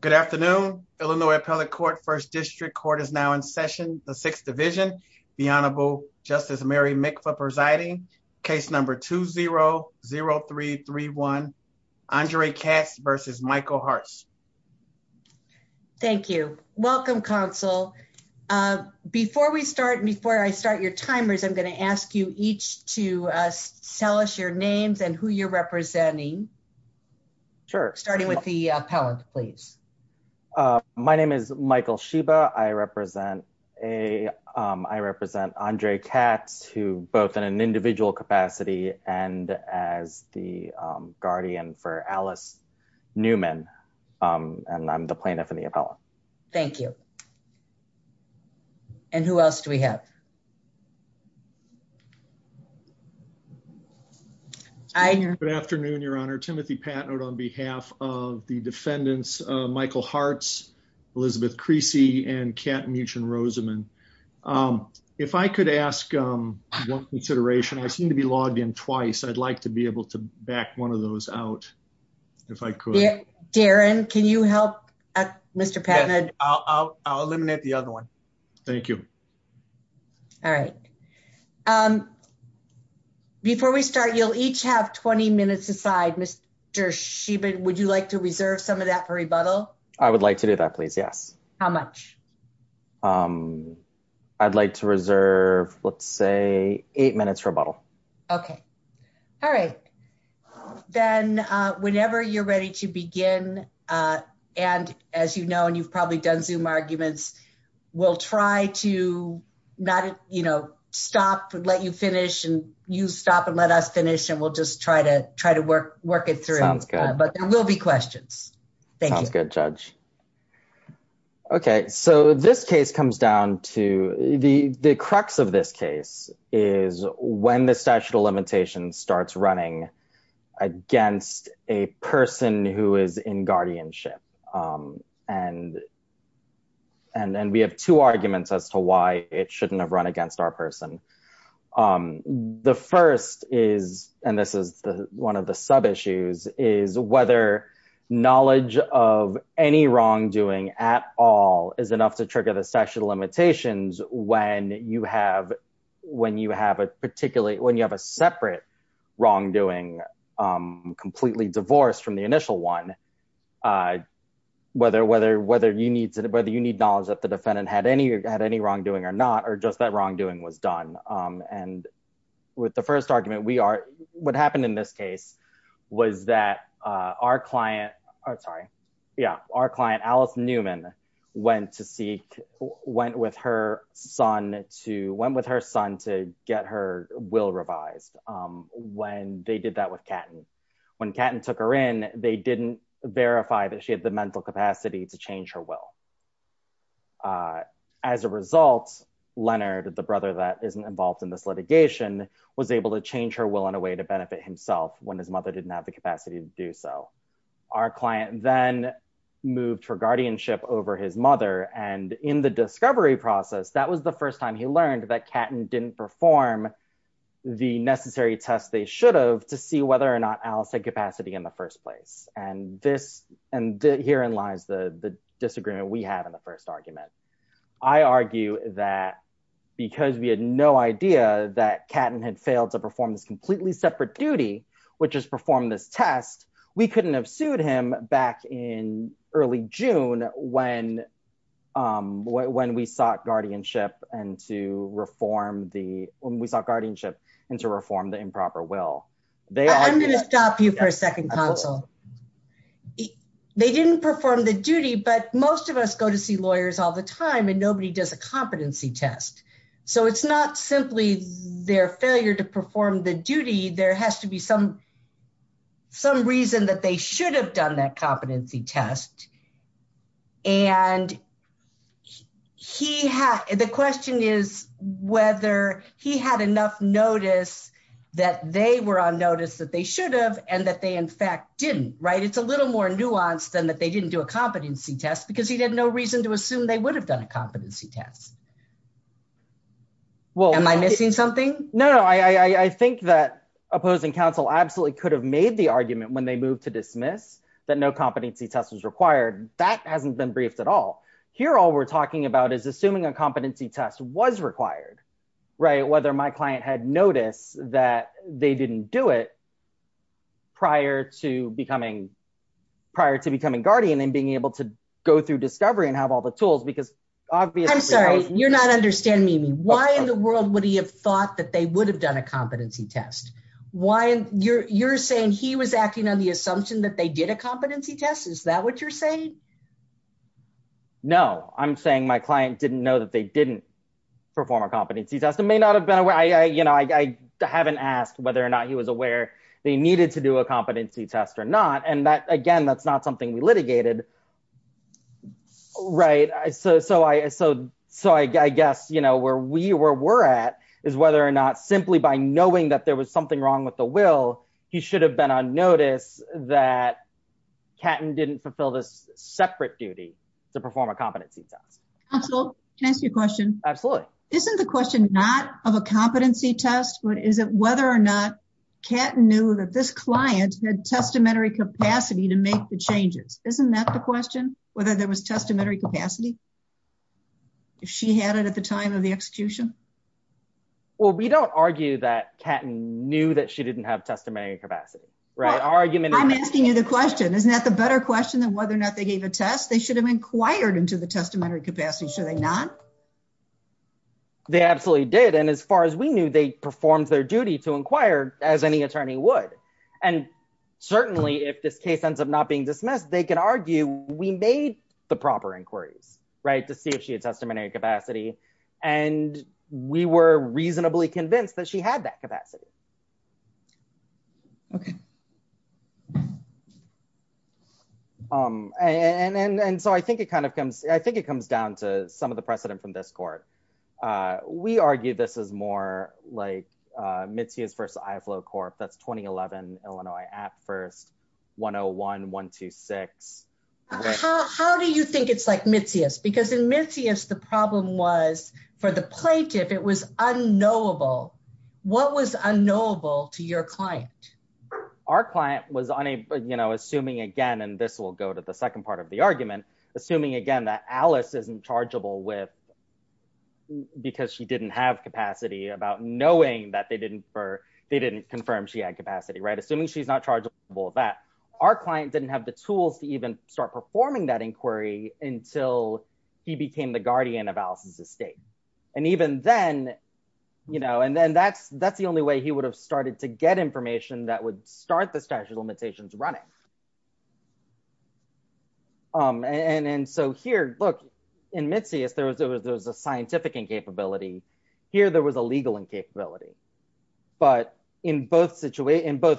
Good afternoon. Illinois Appellate Court First District Court is now in session. The Sixth Division. The Honorable Justice Mary Mikva presiding. Case number 2-0-0331. Andre Katz versus Michael Hartz. Thank you. Welcome, Counsel. Before we start, before I start your timers, I'm going to ask you each to tell us your names and who you're representing. Sure. Starting with the appellant, please. My name is Michael Sheba. I represent Andre Katz, who both in an individual capacity and as the guardian for Alice Newman. And I'm the plaintiff and the appellant. Thank you. And who else do we have? Good afternoon, Your Honor. Timothy Patnode on behalf of the defendants, Michael Hartz, Elizabeth Creasy, and Kat Muchen-Roseman. If I could ask one consideration, I seem to be logged in twice. I'd like to be able to back one of those out if I could. Darren, can you help Mr. Patnode? I'll eliminate the other one. Thank you. All right. Before we start, you'll each have 20 minutes aside. Mr. Sheba, would you like to reserve some of that for rebuttal? I would like to do that, please. Yes. How much? I'd like to reserve, let's say, eight minutes rebuttal. Okay. All right. Then whenever you're done, zoom arguments. We'll try to stop and let you finish, and you stop and let us finish, and we'll just try to work it through. Sounds good. But there will be questions. Thank you. Sounds good, Judge. Okay. So this case comes down to, the crux of this case is when the statute of limitations starts running against a person who is in guardianship. And we have two arguments as to why it shouldn't have run against our person. The first is, and this is one of the sub-issues, is whether knowledge of any wrongdoing at all is enough to trigger the statute of limitations when you have a separate wrongdoing completely divorced from the initial one, whether you need knowledge that the defendant had any wrongdoing or not, or just that wrongdoing was done. And with the first argument, what happened in this case was that our client, sorry, yeah, our client, Alice Newman, went to seek, went with her son to, went with her son to get her will revised when they did that with Catton. When Catton took her in, they didn't verify that she had the mental capacity to change her will. As a result, Leonard, the brother that isn't involved in this litigation, was able to change her will in a way to benefit himself when his mother didn't have the capacity to do so. Our client then moved for guardianship over his mother. And in the discovery process, that was the first time he learned that Catton didn't perform the necessary tests they should have to see whether or not Alice had capacity in the first place. And this, and herein lies the disagreement we have in the first argument. I argue that because we had no idea that Catton had failed to perform this completely separate duty, which is perform this test, we couldn't have sued him back in early June when we sought guardianship and to reform the improper will. I'm going to stop you for a second, Consul. They didn't perform the duty, but most of us go to see lawyers all the time and nobody does a competency test. So it's not simply their failure to perform the duty, there has to be some reason that they should have done that competency test. And the question is whether he had enough notice that they were on notice that they should have and that they in fact didn't, right? It's a little more nuanced than that they didn't do a competency test because he had no reason to Well, am I missing something? No, I think that opposing counsel absolutely could have made the argument when they moved to dismiss that no competency test was required. That hasn't been briefed at all. Here all we're talking about is assuming a competency test was required, right? Whether my client had noticed that they didn't do it prior to becoming, prior to becoming guardian and being able to go through discovery and have all the tools because obviously You're not understanding me. Why in the world would he have thought that they would have done a competency test? Why you're, you're saying he was acting on the assumption that they did a competency test. Is that what you're saying? No, I'm saying my client didn't know that they didn't perform a competency test and may not have been aware. I, you know, I haven't asked whether or not he was aware they needed to do a competency test or not. And that again, that's not something we litigated. Right. So, so I, so, so I guess, you know, where we were, where we're at is whether or not simply by knowing that there was something wrong with the will, he should have been on notice that Catton didn't fulfill this separate duty to perform a competency test. Counsel, can I ask you a question? Absolutely. Isn't the question not of a competency test, but is it whether or not Catton knew that this client had testamentary capacity to make the changes? Isn't that the question, whether there was testamentary capacity, if she had it at the time of the execution? Well, we don't argue that Catton knew that she didn't have testimony capacity. Right. I'm asking you the question. Isn't that the better question than whether or not they gave a test? They should have inquired into the testamentary capacity. Should they not? They absolutely did. And as far as we knew, they performed their duty to inquire as any attorney would. And certainly if this case ends up not being dismissed, they can argue we made the proper inquiries right to see if she had testamentary capacity. And we were reasonably convinced that she had that capacity. Okay. And so I think it kind of comes, I think it comes down to some of the precedent from this court. We argue this is more like Mitzius versus Ivlow Corp. That's 2011 Illinois at first, 101, 126. How do you think it's like Mitzius? Because in Mitzius, the problem was for the plaintiff, it was unknowable. What was unknowable to your client? Our client was assuming again, and this will go to the second part of the argument, assuming again that Alice isn't chargeable with, because she didn't have capacity about knowing that they didn't confirm she had capacity. Assuming she's not chargeable with that, our client didn't have the tools to even start performing that inquiry until he became the guardian of Alice's estate. And even then, and then that's the only way he would have been charged. And so here, look, in Mitzius, there was a scientific incapability. Here, there was a legal incapability. But in both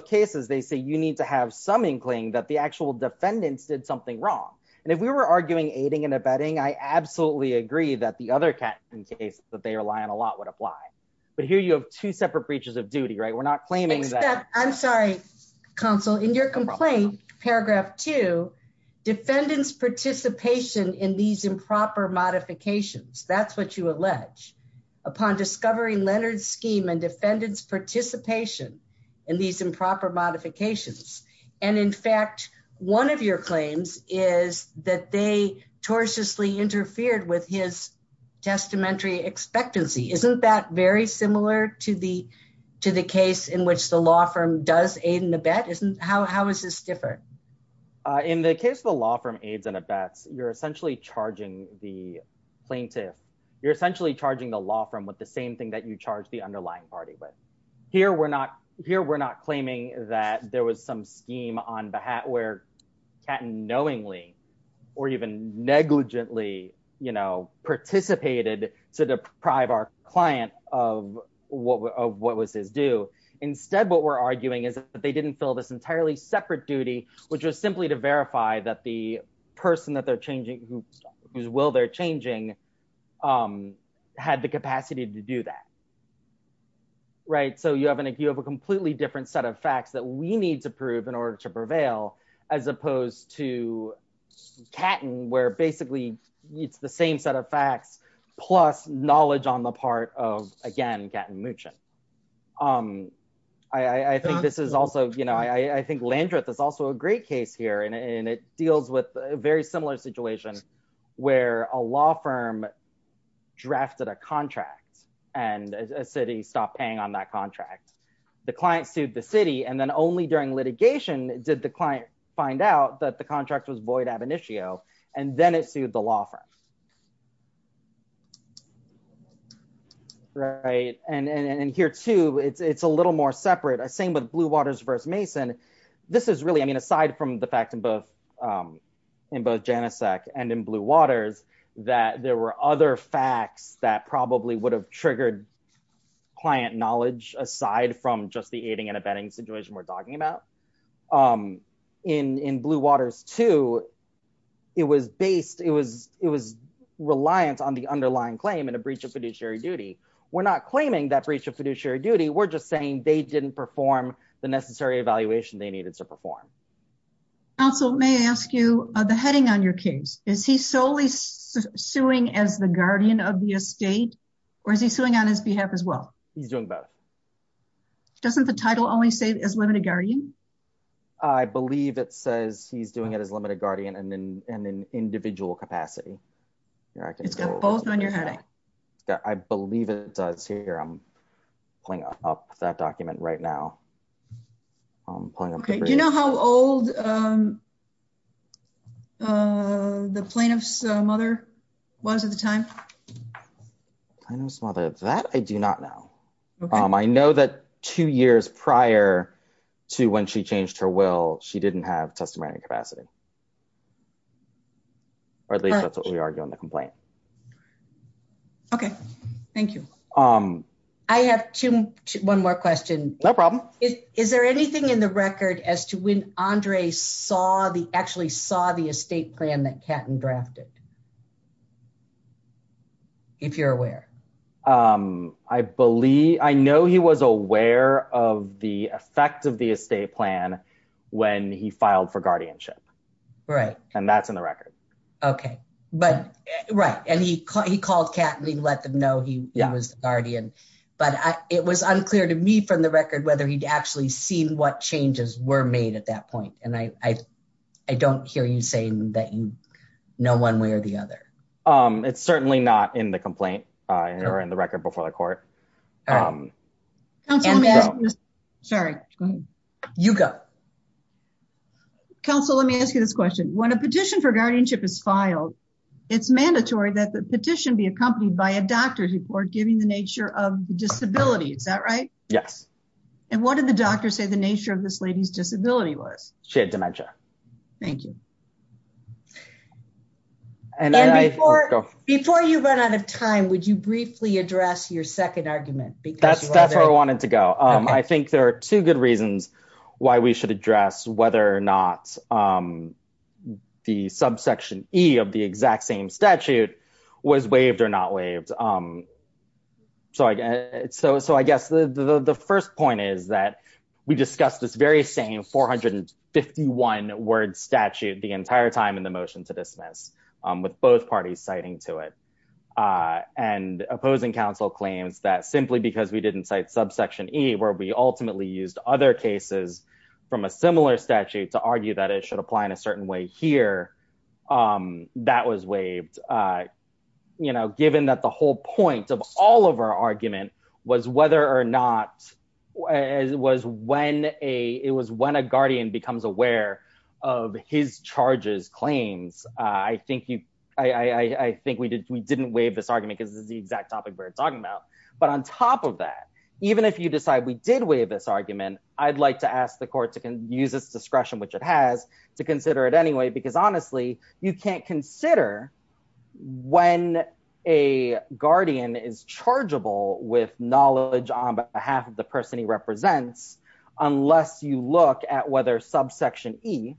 cases, they say you need to have some inkling that the actual defendants did something wrong. And if we were arguing aiding and abetting, I absolutely agree that the other cases that they rely on a lot would apply. But here you have two separate breaches of duty, right? We're not claiming that- I'm sorry, counsel. In your participation in these improper modifications, that's what you allege, upon discovering Leonard's scheme and defendant's participation in these improper modifications. And in fact, one of your claims is that they tortiously interfered with his testamentary expectancy. Isn't that very similar to the case in which the law firm does aid and abet? How is this different? In the case of the law firm aids and abets, you're essentially charging the plaintiff, you're essentially charging the law firm with the same thing that you charge the underlying party with. Here, we're not claiming that there was some scheme on behalf where Catton knowingly, or even negligently, you know, participated to deprive our client of what was his due. Instead, what we're arguing is that they didn't fill this entirely separate duty, which was simply to verify that the person that they're changing, whose will they're changing, had the capacity to do that. Right? So you have a completely different set of facts that we need to prove in order to prevail, as opposed to Catton, where basically, it's the same set of facts, plus knowledge on the part of, again, Catton Muchin. I think this is also, you know, I think Landreth is also a great case here, and it deals with a very similar situation, where a law firm drafted a contract, and a city stopped paying on that contract. The client sued the city, and then only during litigation did the client find out that the contract was void ab initio, and then it sued the law firm. Right. And here, too, it's a little more separate. Same with Blue Waters versus Mason. This is really, I mean, aside from the fact in both Janicek and in Blue Waters, that there were other facts that probably would have triggered client knowledge, aside from just the aiding and abetting situation we're talking about. In Blue Waters, too, it was based, it was reliant on the underlying claim in a breach of fiduciary duty. We're not claiming that breach of fiduciary duty. We're just saying they didn't perform the necessary evaluation they needed to perform. Counsel, may I ask you the heading on your case? Is he solely suing as the guardian of the estate, or is he suing on his behalf as well? He's doing both. Doesn't the title only say, as limited guardian? I believe it says he's doing it as limited guardian in an individual capacity. It's got both on your heading. Yeah, I believe it does here. I'm pulling up that document right now. Okay. Do you know how old the plaintiff's mother was at the time? Plaintiff's mother, that I do not know. I know that two years prior to when she changed her will, she didn't have testimony capacity, or at least that's what we argue on the complaint. Okay, thank you. I have one more question. No problem. Is there anything in the record as to when Andre actually saw the estate plan that Catton drafted, if you're aware? I know he was aware of the effect of the estate plan when he filed for guardianship, and that's in the record. Okay, right, and he called Catton, he let them know he was the guardian, but it was unclear to me from the record whether he'd actually seen what changes were made at that point, and I don't hear you saying that you know one way or the other. It's certainly not in the complaint or in the record before the court. Counsel, let me ask you this question. When a petition for guardianship is filed, it's mandatory that the petition be accompanied by a doctor's report giving the nature of the disability. Is that right? Yes. And what did the doctor say the nature of this lady's disability was? She had dementia. Thank you. And before you run out of time, would you briefly address your second argument? That's where I wanted to go. I think there are two good reasons why we should address whether or not the subsection E of the exact same statute was waived or not waived. So I guess the first point is that we discussed this very same 451 word statute the entire time the motion to dismiss with both parties citing to it. And opposing counsel claims that simply because we didn't cite subsection E where we ultimately used other cases from a similar statute to argue that it should apply in a certain way here, that was waived. You know, given that the whole point of all of our argument was whether or not it was when a guardian becomes aware of his charges claims, I think we didn't waive this argument because this is the exact topic we're talking about. But on top of that, even if you decide we did waive this argument, I'd like to ask the court to use its discretion, which it has to consider it anyway, because honestly, you can't consider when a guardian is chargeable with knowledge on behalf of the person he represents unless you look at whether subsection E,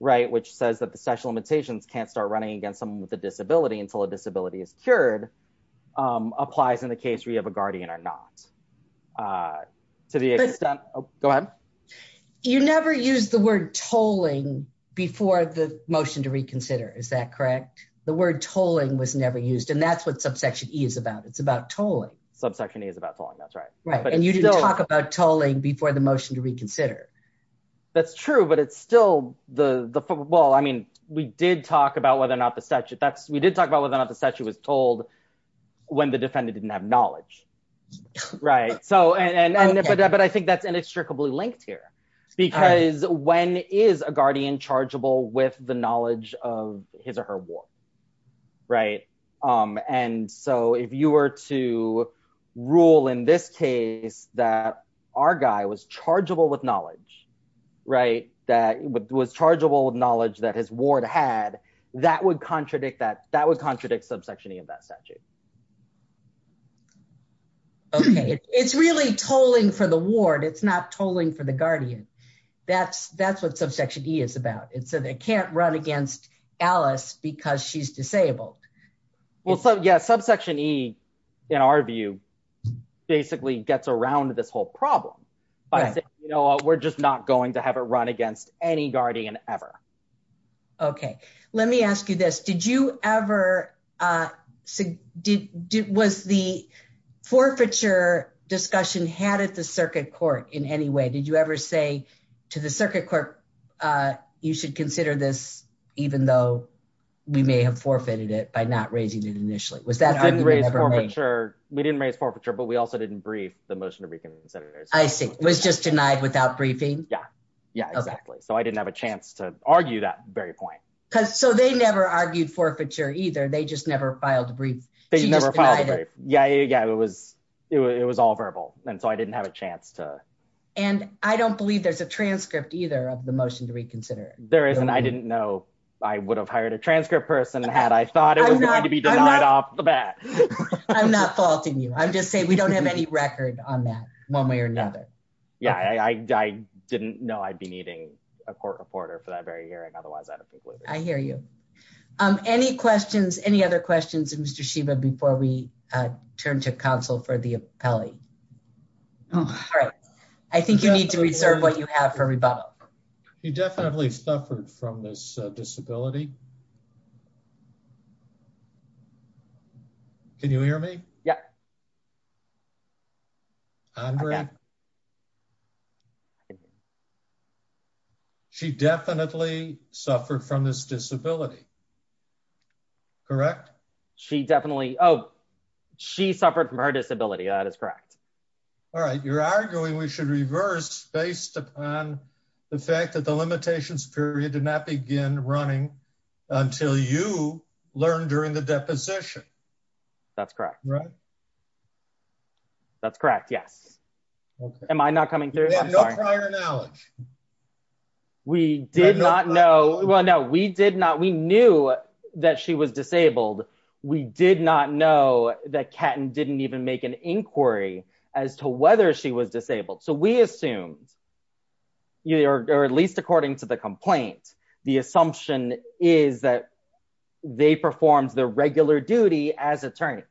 right, which says that the special limitations can't start running against someone with a disability until a disability is cured, applies in the case where you have a guardian or not. To the extent, go ahead. You never use the word tolling before the motion to reconsider, is that correct? The word tolling was never used. And that's what subsection E is about. It's about tolling. Subsection E is about tolling, that's right. And you didn't talk about tolling before the motion to reconsider. That's true, but it's still the, well, I mean, we did talk about whether or not the statute was told when the defendant didn't have knowledge, right? But I think that's inextricably linked here because when is a guardian chargeable with the knowledge of his or her war, right? And so if you were to rule in this case that our guy was chargeable with knowledge, right, that was chargeable with knowledge that his ward had, that would contradict that, that would contradict subsection E of that statute. Okay. It's really tolling for the ward. It's not tolling for the guardian. That's what subsection E is about. And so they can't run against Alice because she's disabled. Well, yeah, subsection E, in our view, basically gets around this whole problem by saying, you know, we're just not going to have it run against any guardian ever. Okay. Let me ask you this. Did you ever, was the forfeiture discussion had at the circuit court in any way, did you ever say to the circuit court, you should consider this, even though we may have forfeited it by not raising it initially? We didn't raise forfeiture, but we also didn't brief the motion to reconsider. I see. It was just denied without briefing. Yeah. Yeah, exactly. So I didn't have a chance to argue that very point. Cause so they never argued forfeiture either. They just never filed a brief. They never filed a brief. Yeah. Yeah. It was, it was all verbal. And so I didn't have a chance to. And I don't believe there's a transcript either of the motion to reconsider it. There isn't, I didn't know I would have hired a transcript person and had, I thought it was going to be denied off the bat. I'm not faulting you. I'm just saying we don't have any record on that one way or another. Yeah. I, I didn't know I'd be needing a court reporter for that very hearing. Otherwise I'd have concluded. I hear you. Any questions, any other questions and Mr. Sheba before we turn to counsel for the appellee? I think you need to reserve what you have for from this disability. Can you hear me? Yeah. She definitely suffered from this disability. Correct. She definitely, Oh, she suffered from her disability. That is correct. All right. You're arguing we should reverse based upon the fact that the limitations period did not begin running until you learned during the deposition. That's correct. Right. That's correct. Yes. Am I not coming through? We did not know. Well, no, we did not. We knew that she was disabled. We did not know that cat and didn't even make an inquiry as to whether she was disabled. So we assumed you, or at least according to the complaint, the assumption is that they performed their regular duty as attorneys.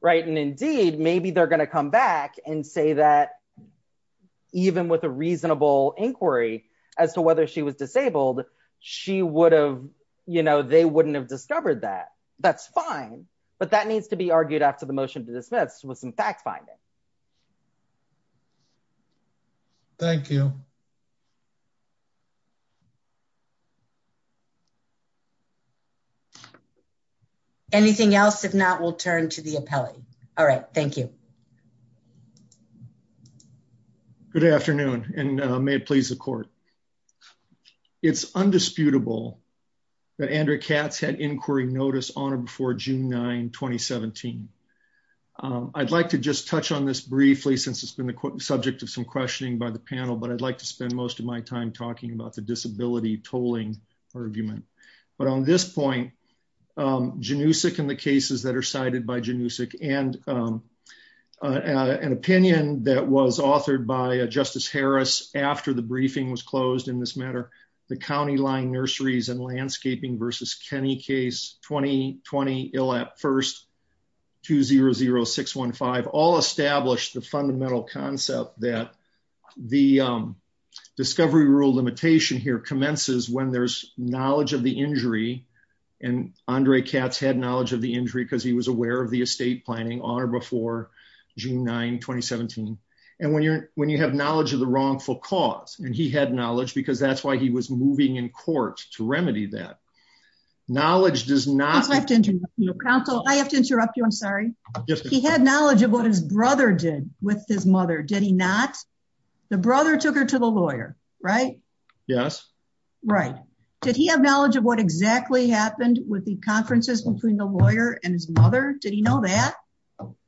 Right. And indeed, maybe they're going to come back and say that even with a reasonable inquiry as to whether she was disabled, she would have, you know, they wouldn't have discovered that that's fine, but that needs to be argued after the motion to dismiss with some facts finding. Thank you. Anything else? If not, we'll turn to the appellate. All right. Thank you. Good afternoon. And may it please the court. It's undisputable that Andrew cats had inquiry notice on or before June 9, 2017. I'd like to just touch on this briefly since it's been the subject of some questioning by the panel, but I'd like to spend most of my time talking about the disability tolling argument, but on this point, Janusik and the cases that are cited by Janusik and an opinion that was authored by a justice Harris after the briefing was closed in this matter, the County line nurseries and landscaping versus Kenny case 2020 ill at first two zero zero six one five, all established the fundamental concept that the discovery rule limitation here commences when there's knowledge of the injury and Andre cats had knowledge of the injury because he was aware of the estate planning on or before June 9, 2017. And when you're, when you have knowledge of the wrongful cause, and he had knowledge because that's why he was moving in court to remedy that knowledge does not have to interrupt you. I'm sorry. He had knowledge of what his brother did with his mother. Did he not? The brother took her to the lawyer, right? Yes. Right. Did he have knowledge of what exactly happened with the conferences between the did he know that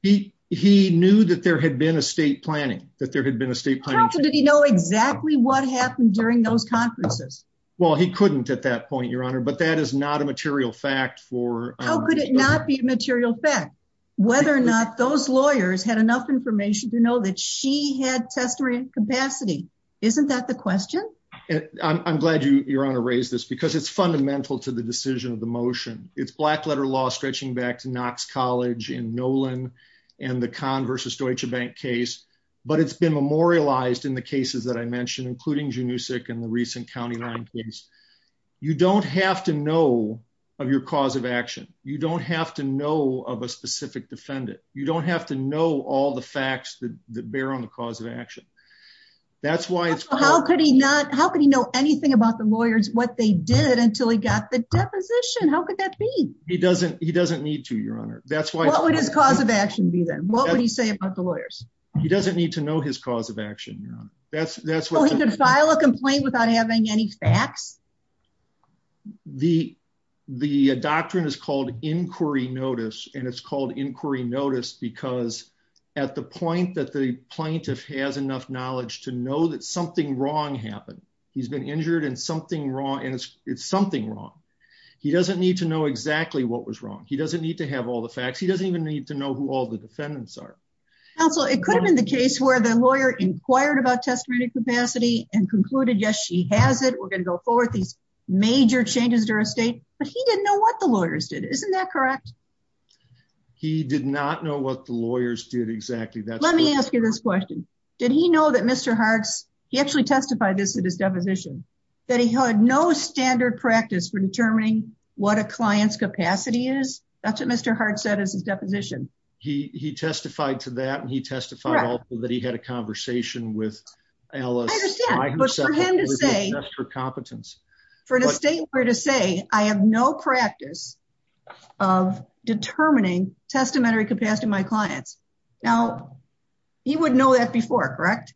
he, he knew that there had been a state planning that there had been a state planning. Did he know exactly what happened during those conferences? Well, he couldn't at that point, your honor, but that is not a material fact for how could it not be a material fact whether or not those lawyers had enough information to know that she had testimony capacity. Isn't that the question? I'm glad you, your honor raised this because it's fundamental to the decision of the motion. It's black letter law stretching back to Knox College in Nolan and the con versus Deutsche Bank case. But it's been memorialized in the cases that I mentioned, including genusic and the recent county line case. You don't have to know of your cause of action. You don't have to know of a specific defendant. You don't have to know all the facts that bear on the cause of action. That's why it's how could he not? How could he know anything about the lawyers what they did until he got the deposition? How could that be? He doesn't he doesn't need to your honor. That's why what would his cause of action be then? What would he say about the lawyers? He doesn't need to know his cause of action. Yeah, that's that's file a complaint without having any facts. The the doctrine is called inquiry notice. And it's called inquiry notice because at the point that the plaintiff has enough knowledge to know that something wrong happened, he's been injured and something wrong and it's something wrong. He doesn't need to have all the facts. He doesn't even need to know who all the defendants are. Also, it could have been the case where the lawyer inquired about testimony capacity and concluded Yes, she has it. We're going to go forward these major changes to our state, but he didn't know what the lawyers did. Isn't that correct? He did not know what the lawyers did exactly that. Let me ask you this question. Did he know that Mr. Harts, he actually testified this at his deposition, that he had no standard practice for determining what a client's capacity is. That's what Mr. Hart said is his deposition. He testified to that. And he testified that he had a conversation with her competence for the state where to say I have no practice of determining testamentary capacity, my clients. Now, he would know that before, correct?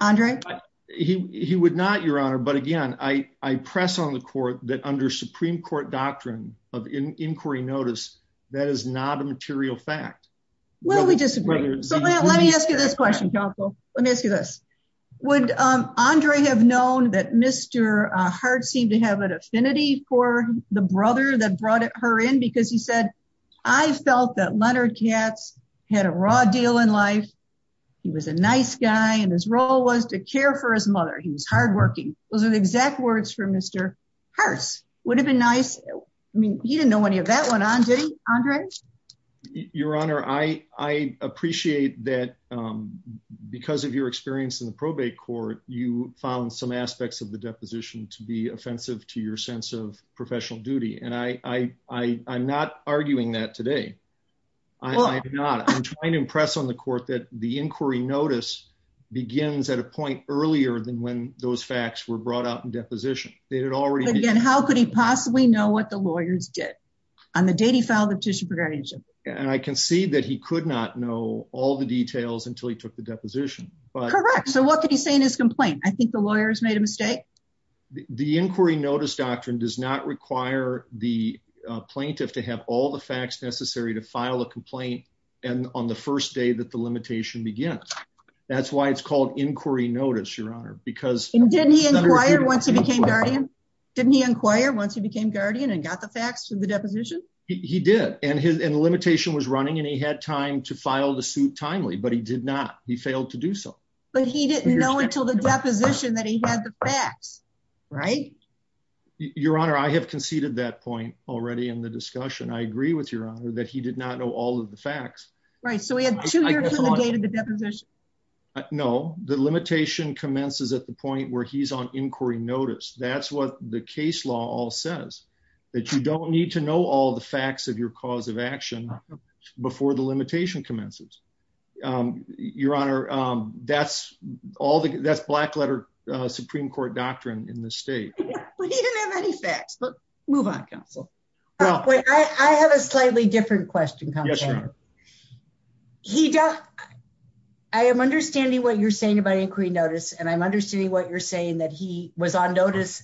Andre, he would not your honor. But again, I press on the court that under Supreme Court doctrine of inquiry notice, that is not a material fact. Well, we disagree. Let me ask you this question. Let me ask you this. Would Andre have known that Mr. Hart seemed to have an affinity for the brother that brought her in because he said, I felt that Leonard Katz had a raw deal in life. He was a nice guy. And his role was to care for his mother. He was hardworking. Those are the exact words for Mr. Hearst would have been nice. I mean, he didn't know any of that went on, did he Andre? Your Honor, I appreciate that. Because of your experience in the probate court, you found some aspects of the deposition to be offensive to your sense of professional duty. And I I'm not arguing that today. I'm trying to impress on the court that the inquiry notice begins at a point earlier than when those facts were brought out in deposition. They had already been how could he possibly know what the lawyers did? On the day he filed the petition for guardianship? And I can see that he could not know all the details until he took the deposition. But correct. So what can he say in his complaint? I think the lawyers made a mistake. The inquiry notice doctrine does not require the plaintiff to have all the facts necessary to file a complaint. And on the first day that the limitation begins. That's why it's called inquiry notice, Your Honor, because didn't he inquire once he became guardian? Didn't he inquire once he became guardian and got the facts from the deposition? He did. And his limitation was running and he had time to file the suit timely, but he did not he failed to do so. But he didn't know until the deposition that he had the facts, right? Your Honor, I have conceded that point already in the discussion. I agree with your honor that he did not know all of the facts, right? So we have two years to the date of the deposition. No, the limitation commences at the point where he's on inquiry notice. That's what the case law all says that you don't need to know all the facts of your cause of action before the limitation commences. Your Honor, that's all that's black letter Supreme Court doctrine in the state. He didn't have any facts, but move on counsel. Well, I have a slightly different question. He does. I am understanding what you're saying about inquiry notice. And I'm understanding what you're saying that he was on notice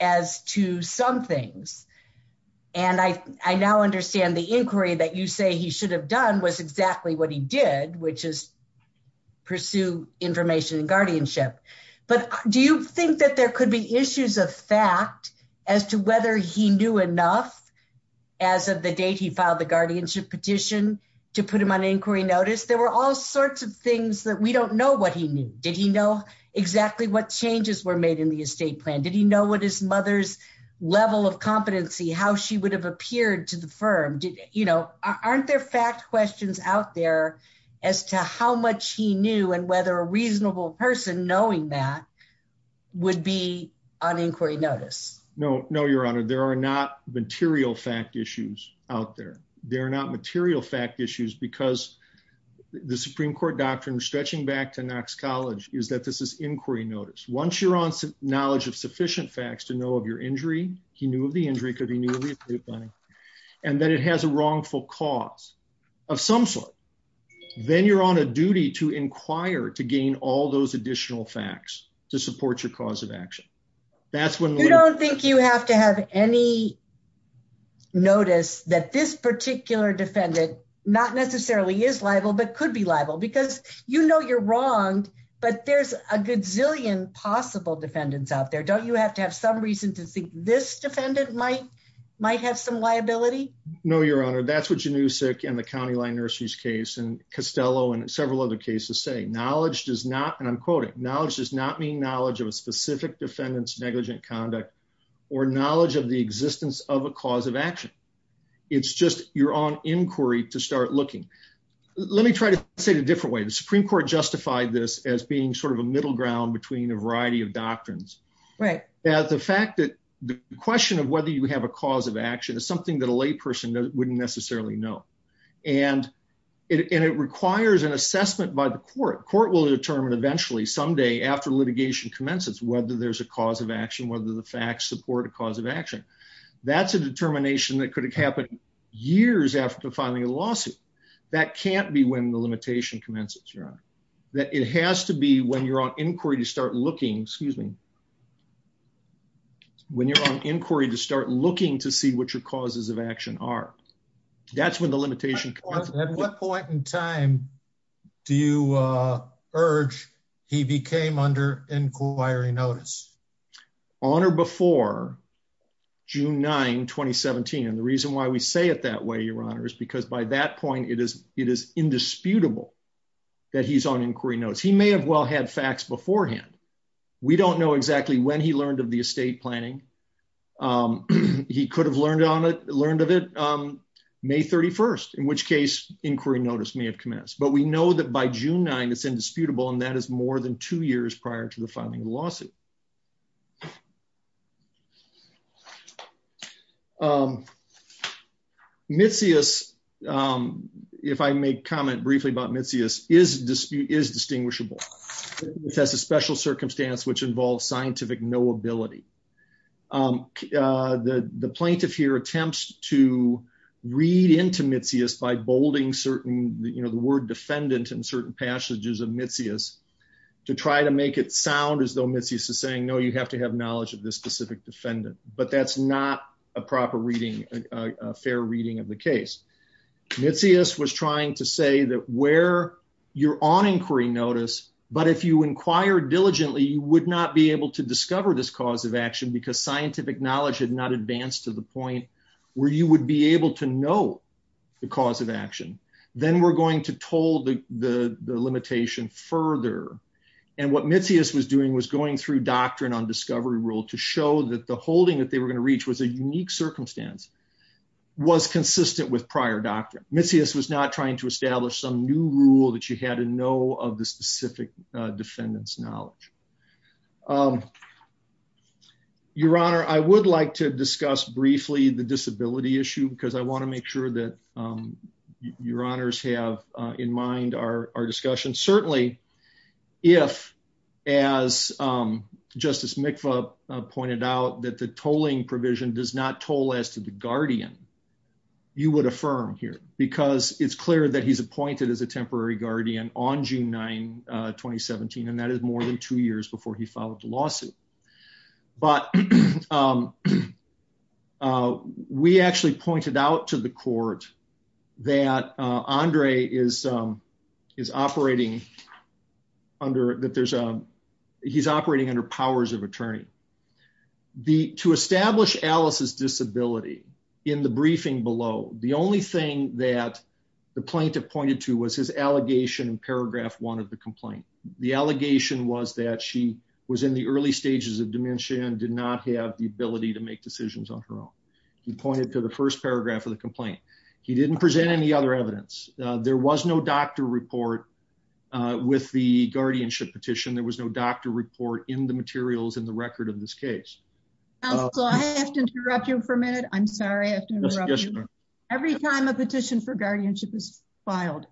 as to some things. And I now understand the inquiry that you say he should have done was exactly what he did, which is pursue information and guardianship. But do you think that there could be issues of fact as to whether he knew enough as of the date he filed the guardianship petition to put him on inquiry notice? There were all sorts of things that we don't know what he knew. Did he know exactly what changes were made in the estate plan? Did he know what his mother's level of competency, how she would have appeared to the aren't there fact questions out there as to how much he knew and whether a reasonable person knowing that would be on inquiry notice? No, no, Your Honor, there are not material fact issues out there. They're not material fact issues, because the Supreme Court doctrine stretching back to Knox College is that this is inquiry notice. Once you're on knowledge of sufficient facts to know of your injury, he knew of the injury could be new money and that it has a of some sort. Then you're on a duty to inquire to gain all those additional facts to support your cause of action. That's when you don't think you have to have any notice that this particular defendant not necessarily is liable, but could be liable because you know you're wrong. But there's a good zillion possible defendants out there. Don't you have to have some reason to think this defendant might might have some liability? No, Your Honor, that's what you knew, sick and the county line nurseries case and Costello and several other cases say knowledge does not and I'm quoting knowledge does not mean knowledge of a specific defendants negligent conduct or knowledge of the existence of a cause of action. It's just you're on inquiry to start looking. Let me try to say it a different way. The Supreme Court justified this as being sort of a middle ground between a variety of doctrines. Right at the fact that the question of whether you have a cause of action is something that a person wouldn't necessarily know, and it requires an assessment by the court. Court will determine eventually someday after litigation commences, whether there's a cause of action, whether the facts support a cause of action. That's a determination that could have happened years after filing a lawsuit. That can't be when the limitation commences, Your Honor, that it has to be when you're on inquiry to start looking, excuse me. When you're on inquiry to start looking to see what your causes of action are, that's when the limitation comes. At what point in time do you urge he became under inquiry notice? On or before June 9, 2017. And the reason why we say it that way, Your Honor, is because by that point it is it is indisputable that he's on inquiry notice. He may have well had facts beforehand. We don't know exactly when he learned of the estate planning. He could have learned of it May 31st, in which case inquiry notice may have commenced. But we know that by June 9 it's indisputable, and that is more than two years prior to the filing of the lawsuit. Um, Mitzias, um, if I may comment briefly about Mitzias is dispute is distinguishable. It has a special circumstance which involves scientific knowability. The plaintiff here attempts to read into Mitzias by bolding certain, you know, the word defendant in certain passages of Mitzias to try to make it sound as though Mitzias is saying, no, you have to have knowledge of this specific defendant. But that's not a proper reading, fair reading of the case. Mitzias was trying to say that where you're on inquiry notice, but if you inquire diligently, you would not be able to discover this cause of action because scientific knowledge had not advanced to the point where you would be able to know the cause of action. Then we're going to toll the limitation further. And what Mitzias was doing was going through doctrine on discovery rule to show that the holding that they were going to reach was a unique circumstance, was consistent with prior doctrine. Mitzias was not trying to establish some new rule that you had to know of the specific defendant's knowledge. Your Honor, I would like to discuss briefly the disability issue because I want to make sure that your honors have in mind our discussion. Certainly if, as Justice Mikva pointed out, that the tolling provision does not toll as to the guardian, you would affirm here because it's clear that he's appointed as a temporary guardian on June 9, 2017. And that is more than two years before he followed the lawsuit. But we actually pointed out to the court that Andre is operating under, that there's a, he's operating under powers of attorney. To establish Alice's disability in the briefing below, the only thing that the plaintiff pointed to was his allegation in paragraph one of the complaint. The allegation was that she was in the early stages of dementia and did not have the ability to make decisions on her own. He pointed to the first paragraph of the complaint. He didn't present any other evidence. There was no doctor report with the guardianship petition. There was no doctor report in the materials in the record of this case. Counsel, I have to interrupt you for a minute. I'm sorry. I have to interrupt you. Every time a petition for guardianship is appointed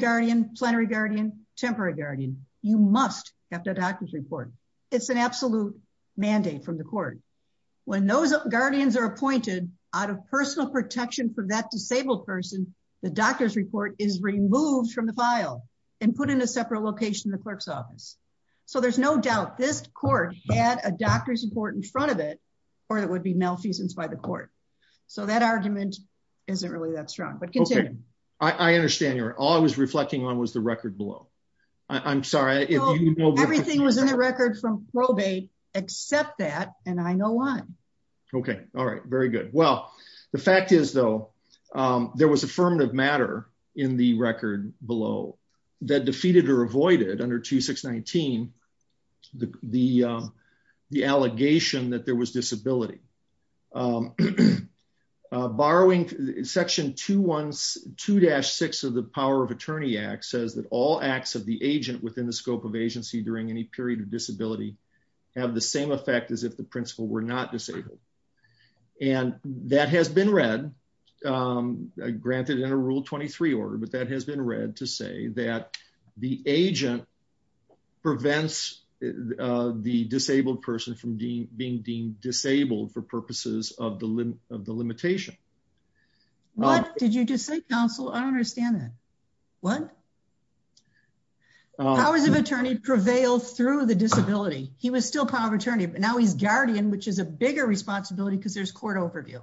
guardian, plenary guardian, temporary guardian, you must have a doctor's report. It's an absolute mandate from the court. When those guardians are appointed out of personal protection for that disabled person, the doctor's report is removed from the file and put in a separate location in the clerk's office. So there's no doubt this court had a doctor's report in front of it or there would be malfeasance by the court. So that argument isn't really that strong, but continue. I understand. All I was reflecting on was the record below. I'm sorry. Everything was in the record from probate except that, and I know why. Okay. All right. Very good. Well, the fact is, though, there was affirmative matter in the record below that defeated or avoided under 2619 the allegation that there was disability. Borrowing section 2-6 of the Power of Attorney Act says that all acts of the agent within the scope of agency during any period of disability have the same effect as if the principal were not disabled. And that has been read, granted in a Rule 23 order, but that has been read to say that the agent prevents the disabled person from being deemed disabled for purposes of the limitation. What did you just say, counsel? I don't understand that. What? Powers of Attorney prevailed through the disability. He was still Power of Attorney, but now he's guardian, which is a bigger responsibility because there's court overview.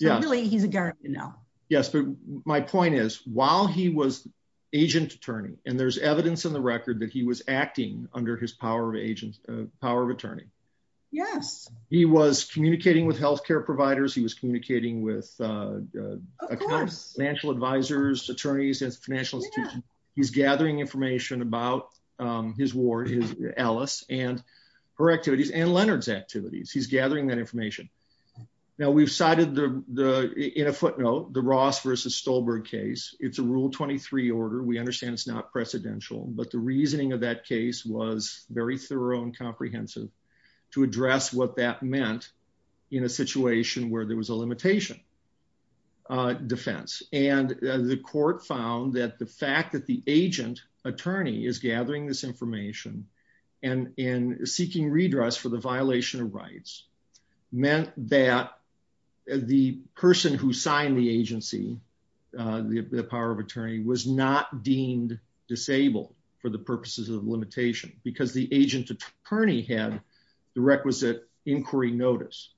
Really, he's a guardian now. Yes, but my point is, while he was agent attorney, and there's evidence in the record that he was acting under his Power of Attorney, he was communicating with health care providers. He was communicating with financial advisors, attorneys, and financial institutions. He's gathering information about his ward, Alice, and her activities and Leonard's activities. He's gathering that information. Now, we've cited in a footnote the Ross versus Stolberg case. It's a Rule 23 order. We understand it's not precedential, but the reasoning of that case was very thorough and comprehensive to address what that meant in a situation where there was a limitation defense. And the court found that the fact that the agent attorney is gathering this information and seeking redress for the violation of rights meant that the person who signed the agency, the Power of Attorney, was not deemed disabled for the purposes of limitation because the agent attorney had the requisite inquiry notice.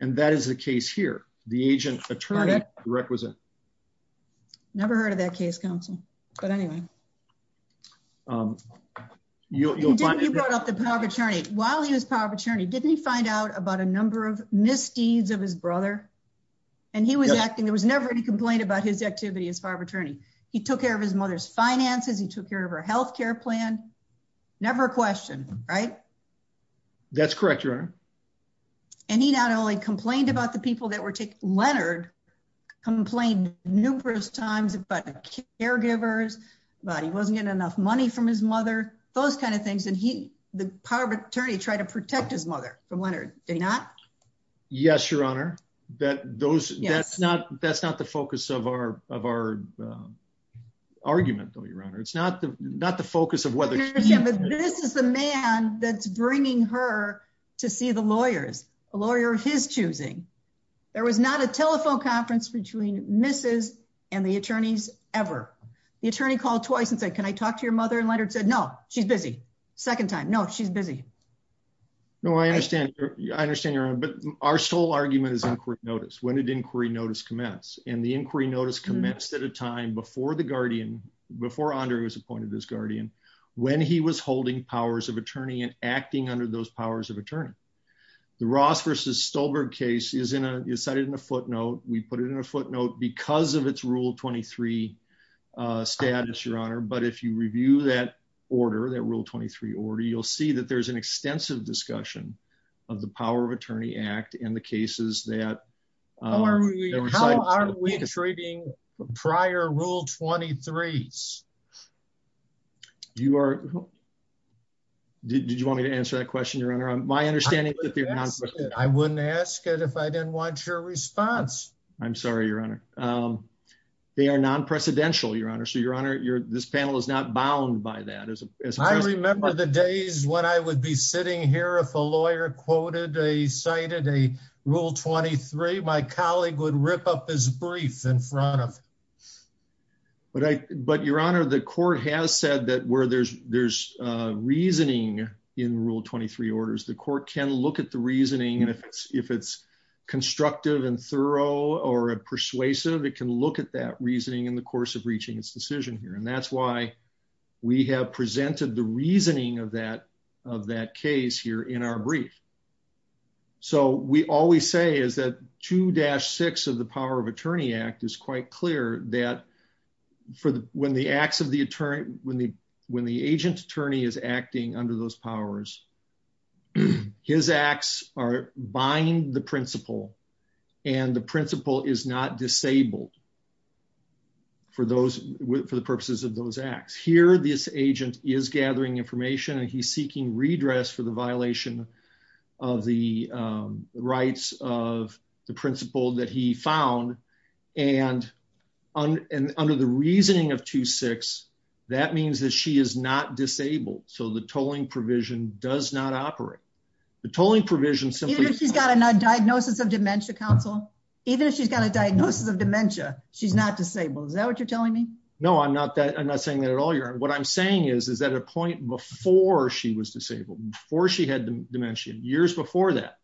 And that is the case here. The agent attorney requisite. Never heard of that case, counsel, but anyway. You brought up the Power of Attorney. While he was Power of Attorney, didn't he find out about a number of misdeeds of his brother? And he was acting, there was never any complaint about his activity as Power of Attorney. He took care of his mother's finances. He took care of her health care plan. Never a question, right? That's correct, Your Honor. And he not only complained about the people that were taking, Leonard complained numerous times about the caregivers, about he wasn't getting enough money from his mother, those kinds of things. And he, the Power of Attorney, tried to protect his mother from Leonard. Did he not? Yes, Your Honor. That's not the focus of our argument, though, Your Honor. It's not the focus of whether- This is the man that's bringing her to see the lawyers, a lawyer of his choosing. There was not a telephone conference between Mrs. and the attorneys ever. The attorney called twice and said, can I talk to your mother? And Leonard said, no, she's busy. Second time, no, she's busy. No, I understand. I understand, Your Honor. But our sole argument is inquiry notice. When did inquiry notice commence? And the inquiry notice commenced at a time before the guardian, before Andrew was appointed as guardian, when he was holding Powers of Attorney and acting under those Powers of Attorney. The Ross versus Stolberg case is in a, it's cited in a footnote. We put it in a footnote because of its Rule 23 status, Your Honor. But if you review that order, that Rule 23 order, you'll see that there's an extensive discussion of the Power of Attorney Act and the cases that- How are we treating prior Rule 23s? You are, did you want me to answer that question, Your Honor? My understanding is that- I wouldn't ask it if I didn't want your response. I'm sorry, Your Honor. They are non-precedential, Your Honor. So, Your Honor, this panel is not bound by that. I remember the days when I would be sitting here if a lawyer quoted a, cited a Rule 23, my colleague would rip up his brief in front of me. But I, but Your Honor, the court has said that where there's, there's reasoning in Rule 23 orders, the court can look at the reasoning and if it's, if it's constructive and thorough or persuasive, it can look at that reasoning in the course of reaching its decision here. And that's why we have presented the reasoning of that, of that case here in our brief. So, we always say is that 2-6 of the Power of Attorney Act is quite clear that for the, when the acts of the attorney, when the, when the agent attorney is acting under those powers, his acts are binding the principle and the principle is not disabled for those, for the purposes of those acts. Here, this agent is gathering information and he's seeking redress for the violation of the rights of the principle that he found. And under the reasoning of 2-6, that means that she is not disabled. So, the tolling provision does not operate. The tolling provision simply- Even if she's got a diagnosis of dementia, counsel? Even if she's got a diagnosis of dementia, she's not disabled. Is that what you're telling me? No, I'm not that, I'm not saying that at all, Your Honor. What I'm saying is, is at a point before she was disabled, before she had dementia, years before that,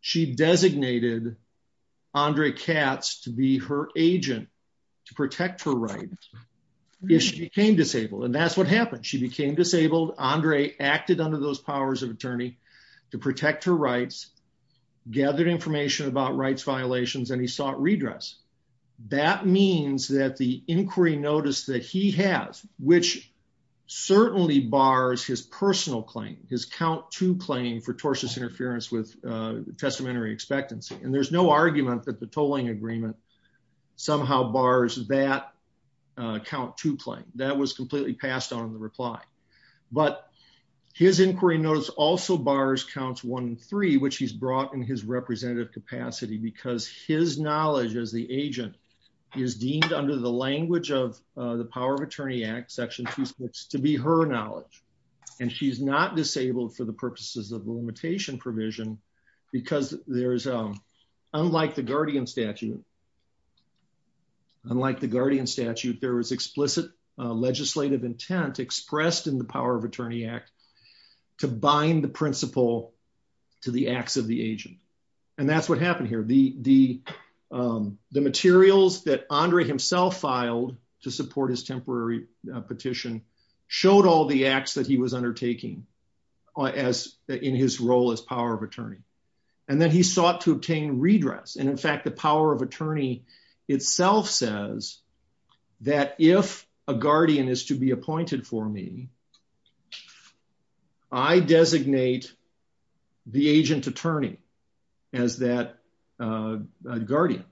she designated Andre Katz to be her agent to protect her rights if she became disabled. And that's what happened. She became disabled. Andre acted under those powers of attorney to protect her rights, gathered information about rights violations, and he sought redress. That means that the inquiry notice that he has, which certainly bars his personal claim, his count two claim for tortious interference with testamentary expectancy. And there's no argument that the tolling agreement somehow bars that count two claim. That was completely passed on in the reply. But his inquiry notice also bars counts one and three, which he's brought in his representative capacity because his knowledge as the agent is deemed under the language of the power of attorney act section two six to be her knowledge. And she's not disabled for the purposes of limitation provision because there is, unlike the guardian statute, unlike the guardian statute, there was explicit legislative intent expressed in the power of And that's what happened here. The materials that Andre himself filed to support his temporary petition showed all the acts that he was undertaking in his role as power of attorney. And then he sought to obtain redress. And in fact, the power of attorney itself says that if a guardian is to be appointed for me, I designate the agent attorney as that guardian.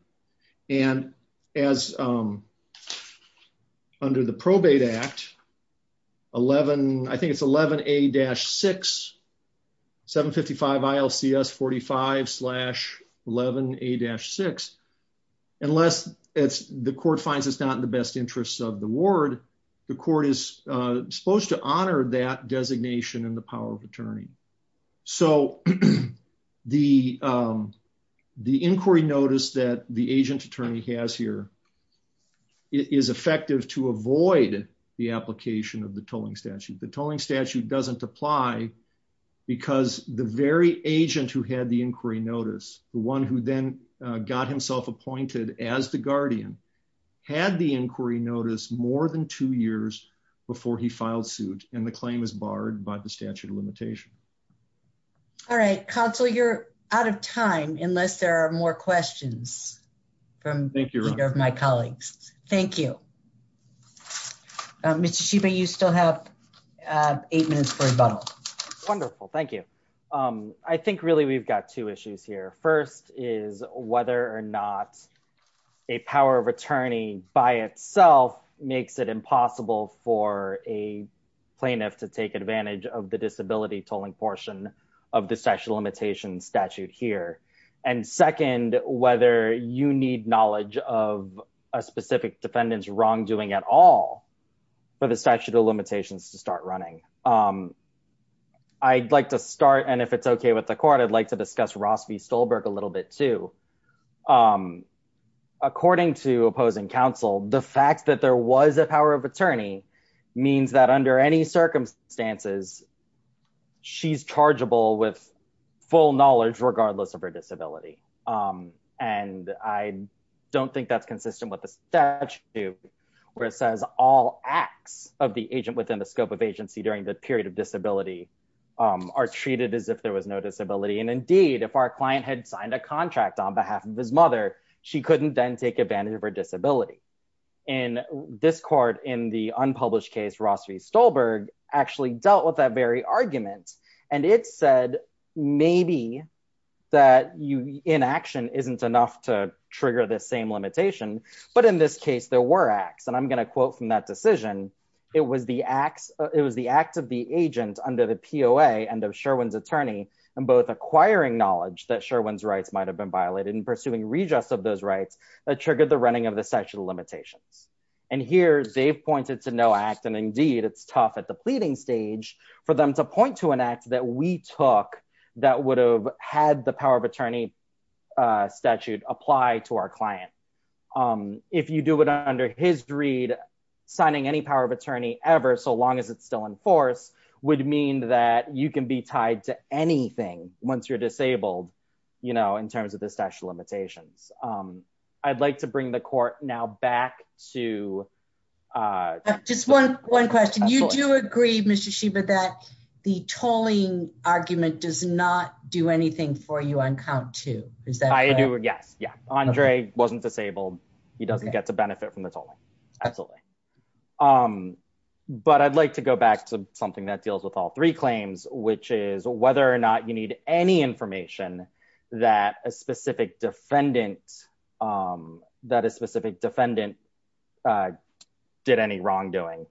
And as under the probate act 11, I think it's 11 a dash six 755 ILC s 45 slash 11 a dash six. Unless it's the court finds it's not in the best interest of the word, the court is supposed to honor that designation and the power of attorney. So the the inquiry notice that the agent attorney has here is effective to avoid the application of the tolling statute, the tolling statute doesn't apply. Because the very agent who had the inquiry notice the one who then got himself appointed as the guardian had the inquiry notice more than two years before he filed suit, and the claim is barred by the statute of limitation. All right, Council, you're out of time, unless there are more questions from my colleagues. Thank you. Mr. Shiba, you still have eight minutes for rebuttal. Wonderful. Thank you. I think really, we've got two issues here. First is whether or not a power of attorney by itself makes it impossible for a plaintiff to take advantage of the disability tolling portion of the statute of limitations statute here. And second, whether you need knowledge of a specific defendants wrongdoing at all for the statute of limitations to start running. I'd like to start and if it's okay with the court, I'd like to discuss Ross v. Stolberg a little bit too. According to opposing counsel, the fact that there was a power of attorney means that under any circumstances, she's chargeable with full knowledge regardless of her disability. And I don't think that's consistent with the statute, where it says all acts of the agent within the scope of agency during the period of disability are treated as if there was no disability. And indeed, if our client had signed a contract on behalf of his mother, she couldn't then take advantage of her disability. And this court in the unpublished case, Ross v. Stolberg actually dealt with that very argument. And it said, maybe that inaction isn't enough to trigger the same limitation. But in this case, there were acts of Sherwin's attorney and both acquiring knowledge that Sherwin's rights might have been violated and pursuing readjust of those rights that triggered the running of the statute of limitations. And here, they've pointed to no act. And indeed, it's tough at the pleading stage for them to point to an act that we took, that would have had the power of attorney statute apply to our client. If you do it under his greed, signing any power of attorney ever, long as it's still in force, would mean that you can be tied to anything once you're disabled, in terms of the statute of limitations. I'd like to bring the court now back to... Just one question. You do agree, Mr. Shiba, that the tolling argument does not do anything for you on count two. Is that correct? I do. Yes. Yeah. Andre wasn't disabled. He doesn't get to benefit from the tolling. Absolutely. But I'd like to go back to something that deals with all three claims, which is whether or not you need any information that a specific defendant did any wrongdoing.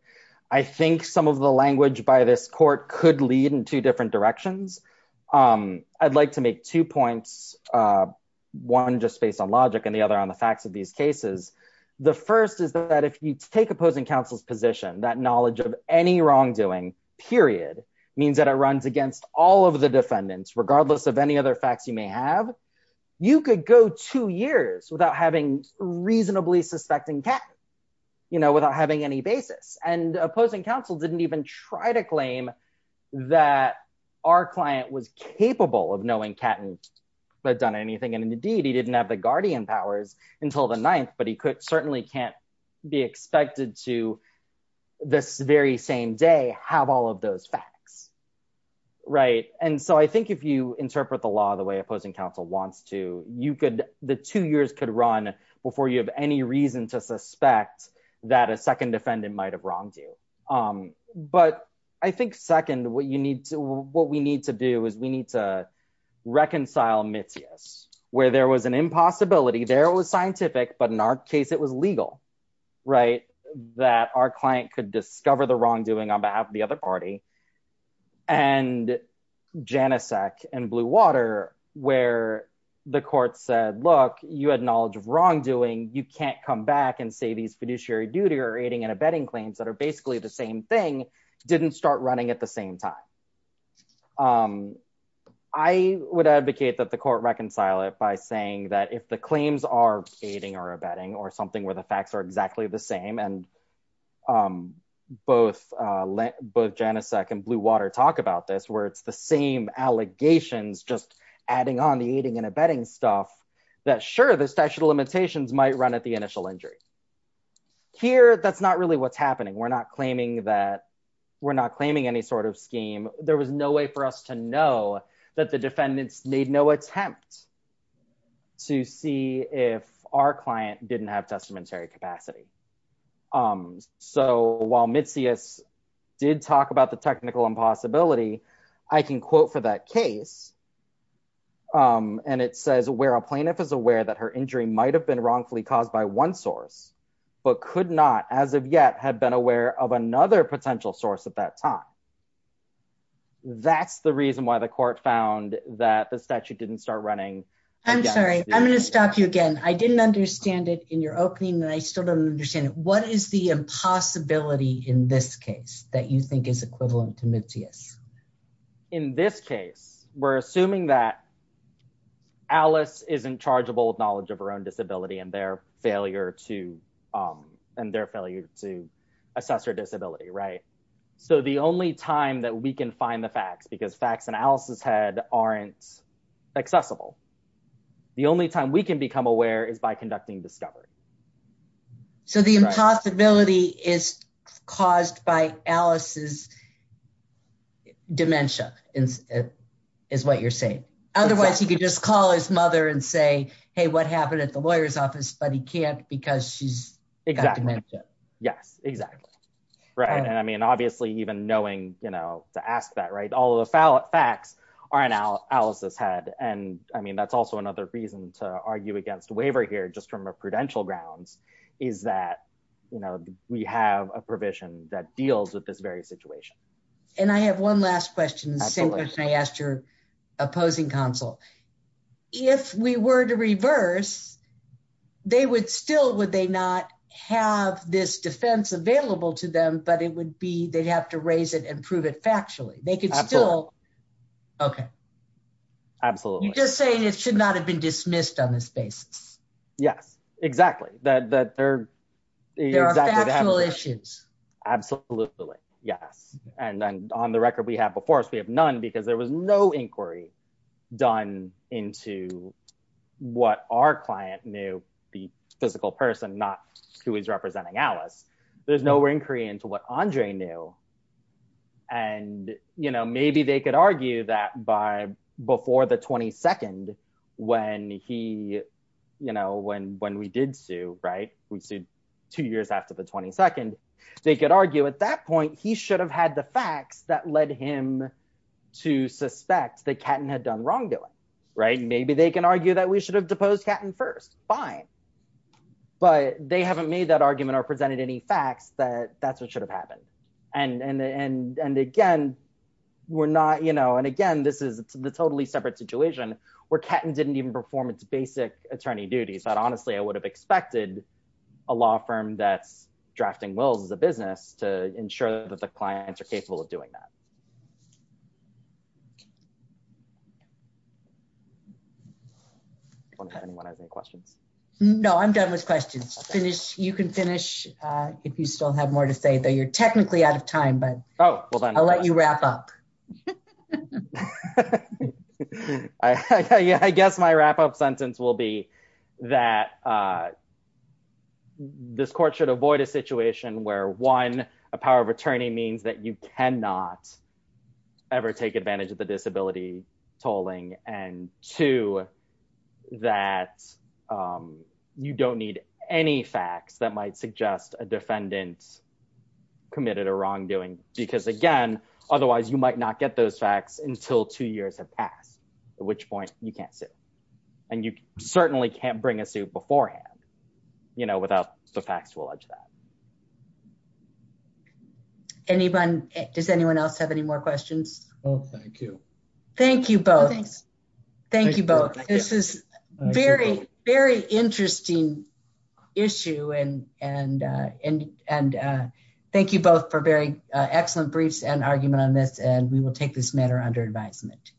I think some of the language by this court could lead in two different directions. I'd like to make two points, one just based on logic and the other on the facts of these cases. The first is that if you take opposing counsel's position, that knowledge of any wrongdoing, period, means that it runs against all of the defendants, regardless of any other facts you may have, you could go two years without having reasonably suspecting Catton, without having any basis. And opposing counsel didn't even try to claim that our client was capable of knowing Catton had done anything. And indeed, he didn't have the guardian powers until the ninth, but he certainly can't be expected to this very same day, have all of those facts. Right. And so I think if you interpret the law the way opposing counsel wants to, the two years could run before you have any reason to suspect that a second defendant might have wronged you. But I think second, what we need to do is we need to reconcile Mitzias, where there was an impossibility, there it was scientific, but in our case, it was legal, right? That our client could discover the wrongdoing on behalf of the other party. And Janicek and Bluewater, where the court said, look, you had knowledge of wrongdoing, you can't come back and say these fiduciary duty or aiding and abetting claims that basically the same thing didn't start running at the same time. I would advocate that the court reconcile it by saying that if the claims are aiding or abetting or something where the facts are exactly the same, and both Janicek and Bluewater talk about this, where it's the same allegations, just adding on the aiding and abetting stuff, that sure, the statute of that we're not claiming any sort of scheme, there was no way for us to know that the defendants made no attempt to see if our client didn't have testamentary capacity. So while Mitzias did talk about the technical impossibility, I can quote for that case. And it says, where a plaintiff is aware that her injury might have been wrongfully caused by one source, but could not, as of yet, have been aware of another potential source at that time. That's the reason why the court found that the statute didn't start running. I'm sorry, I'm going to stop you again. I didn't understand it in your opening, and I still don't understand it. What is the impossibility in this case that you think is equivalent to Mitzias? In this case, we're assuming that Alice is in charge of old knowledge of her own disability and their failure to assess her disability, right? So the only time that we can find the facts, because facts in Alice's head aren't accessible, the only time we can become aware is by conducting discovery. So the impossibility is caused by Alice's dementia, is what you're saying. Otherwise, he could just call his mother and say, hey, what happened at the lawyer's office, but he can't because she's got dementia. Exactly. Yes, exactly. Right. And I mean, obviously, even knowing, you know, to ask that, right, all the facts are in Alice's head. And I mean, that's also another reason to argue against waiver here, just from a prudential grounds, is that, you know, we have a provision that deals with this very situation. And I have one last question, the same question I asked your opposing counsel. If we were to reverse, they would still, would they not have this defense available to them, but it would be, they'd have to raise it and prove it factually. They could still, okay. Absolutely. You're just saying it should not have been dismissed on this basis. Yes, exactly. There are factual issues. Absolutely. Yes. And on the record we have before us, we have none because there was no inquiry done into what our client knew, the physical person, not who is representing Alice. There's no inquiry into what Andre knew. And, you know, maybe they could argue that by before the 22nd, when he, you know, when, when we did sue, right, we sued two years after the 22nd, they could argue at that point, he should have had the facts that led him to suspect that Catton had done wrongdoing. Right. Maybe they can argue that we should have deposed Catton first. Fine. But they haven't made that argument or presented any facts that that's what should have happened. And, and, and, and again, we're not, you know, and again, this is the totally separate situation where Catton didn't even perform its basic attorney duties. But honestly, I would have expected a law firm that's drafting wills as a business to ensure that the clients are capable of doing that. Does anyone have any questions? No, I'm done with questions. Finish. You can finish. If you still have more to say, though, you're technically out of time, but I'll let you wrap up. I guess my wrap up sentence will be that this court should avoid a situation where one, a power of attorney means that you cannot ever take advantage of the disability tolling and to that you don't need any facts that might suggest a defendant committed a wrongdoing. Because again, otherwise you might not get those facts until two years have passed, at which point you can't sit. And you certainly can't bring a suit beforehand, you know, without the facts to allege that. Anyone? Does anyone else have any more questions? Oh, thank you. Thank you both. Thank you both. This is very, very interesting issue. And thank you both for very excellent briefs and argument on this. And we will take this matter under advisement.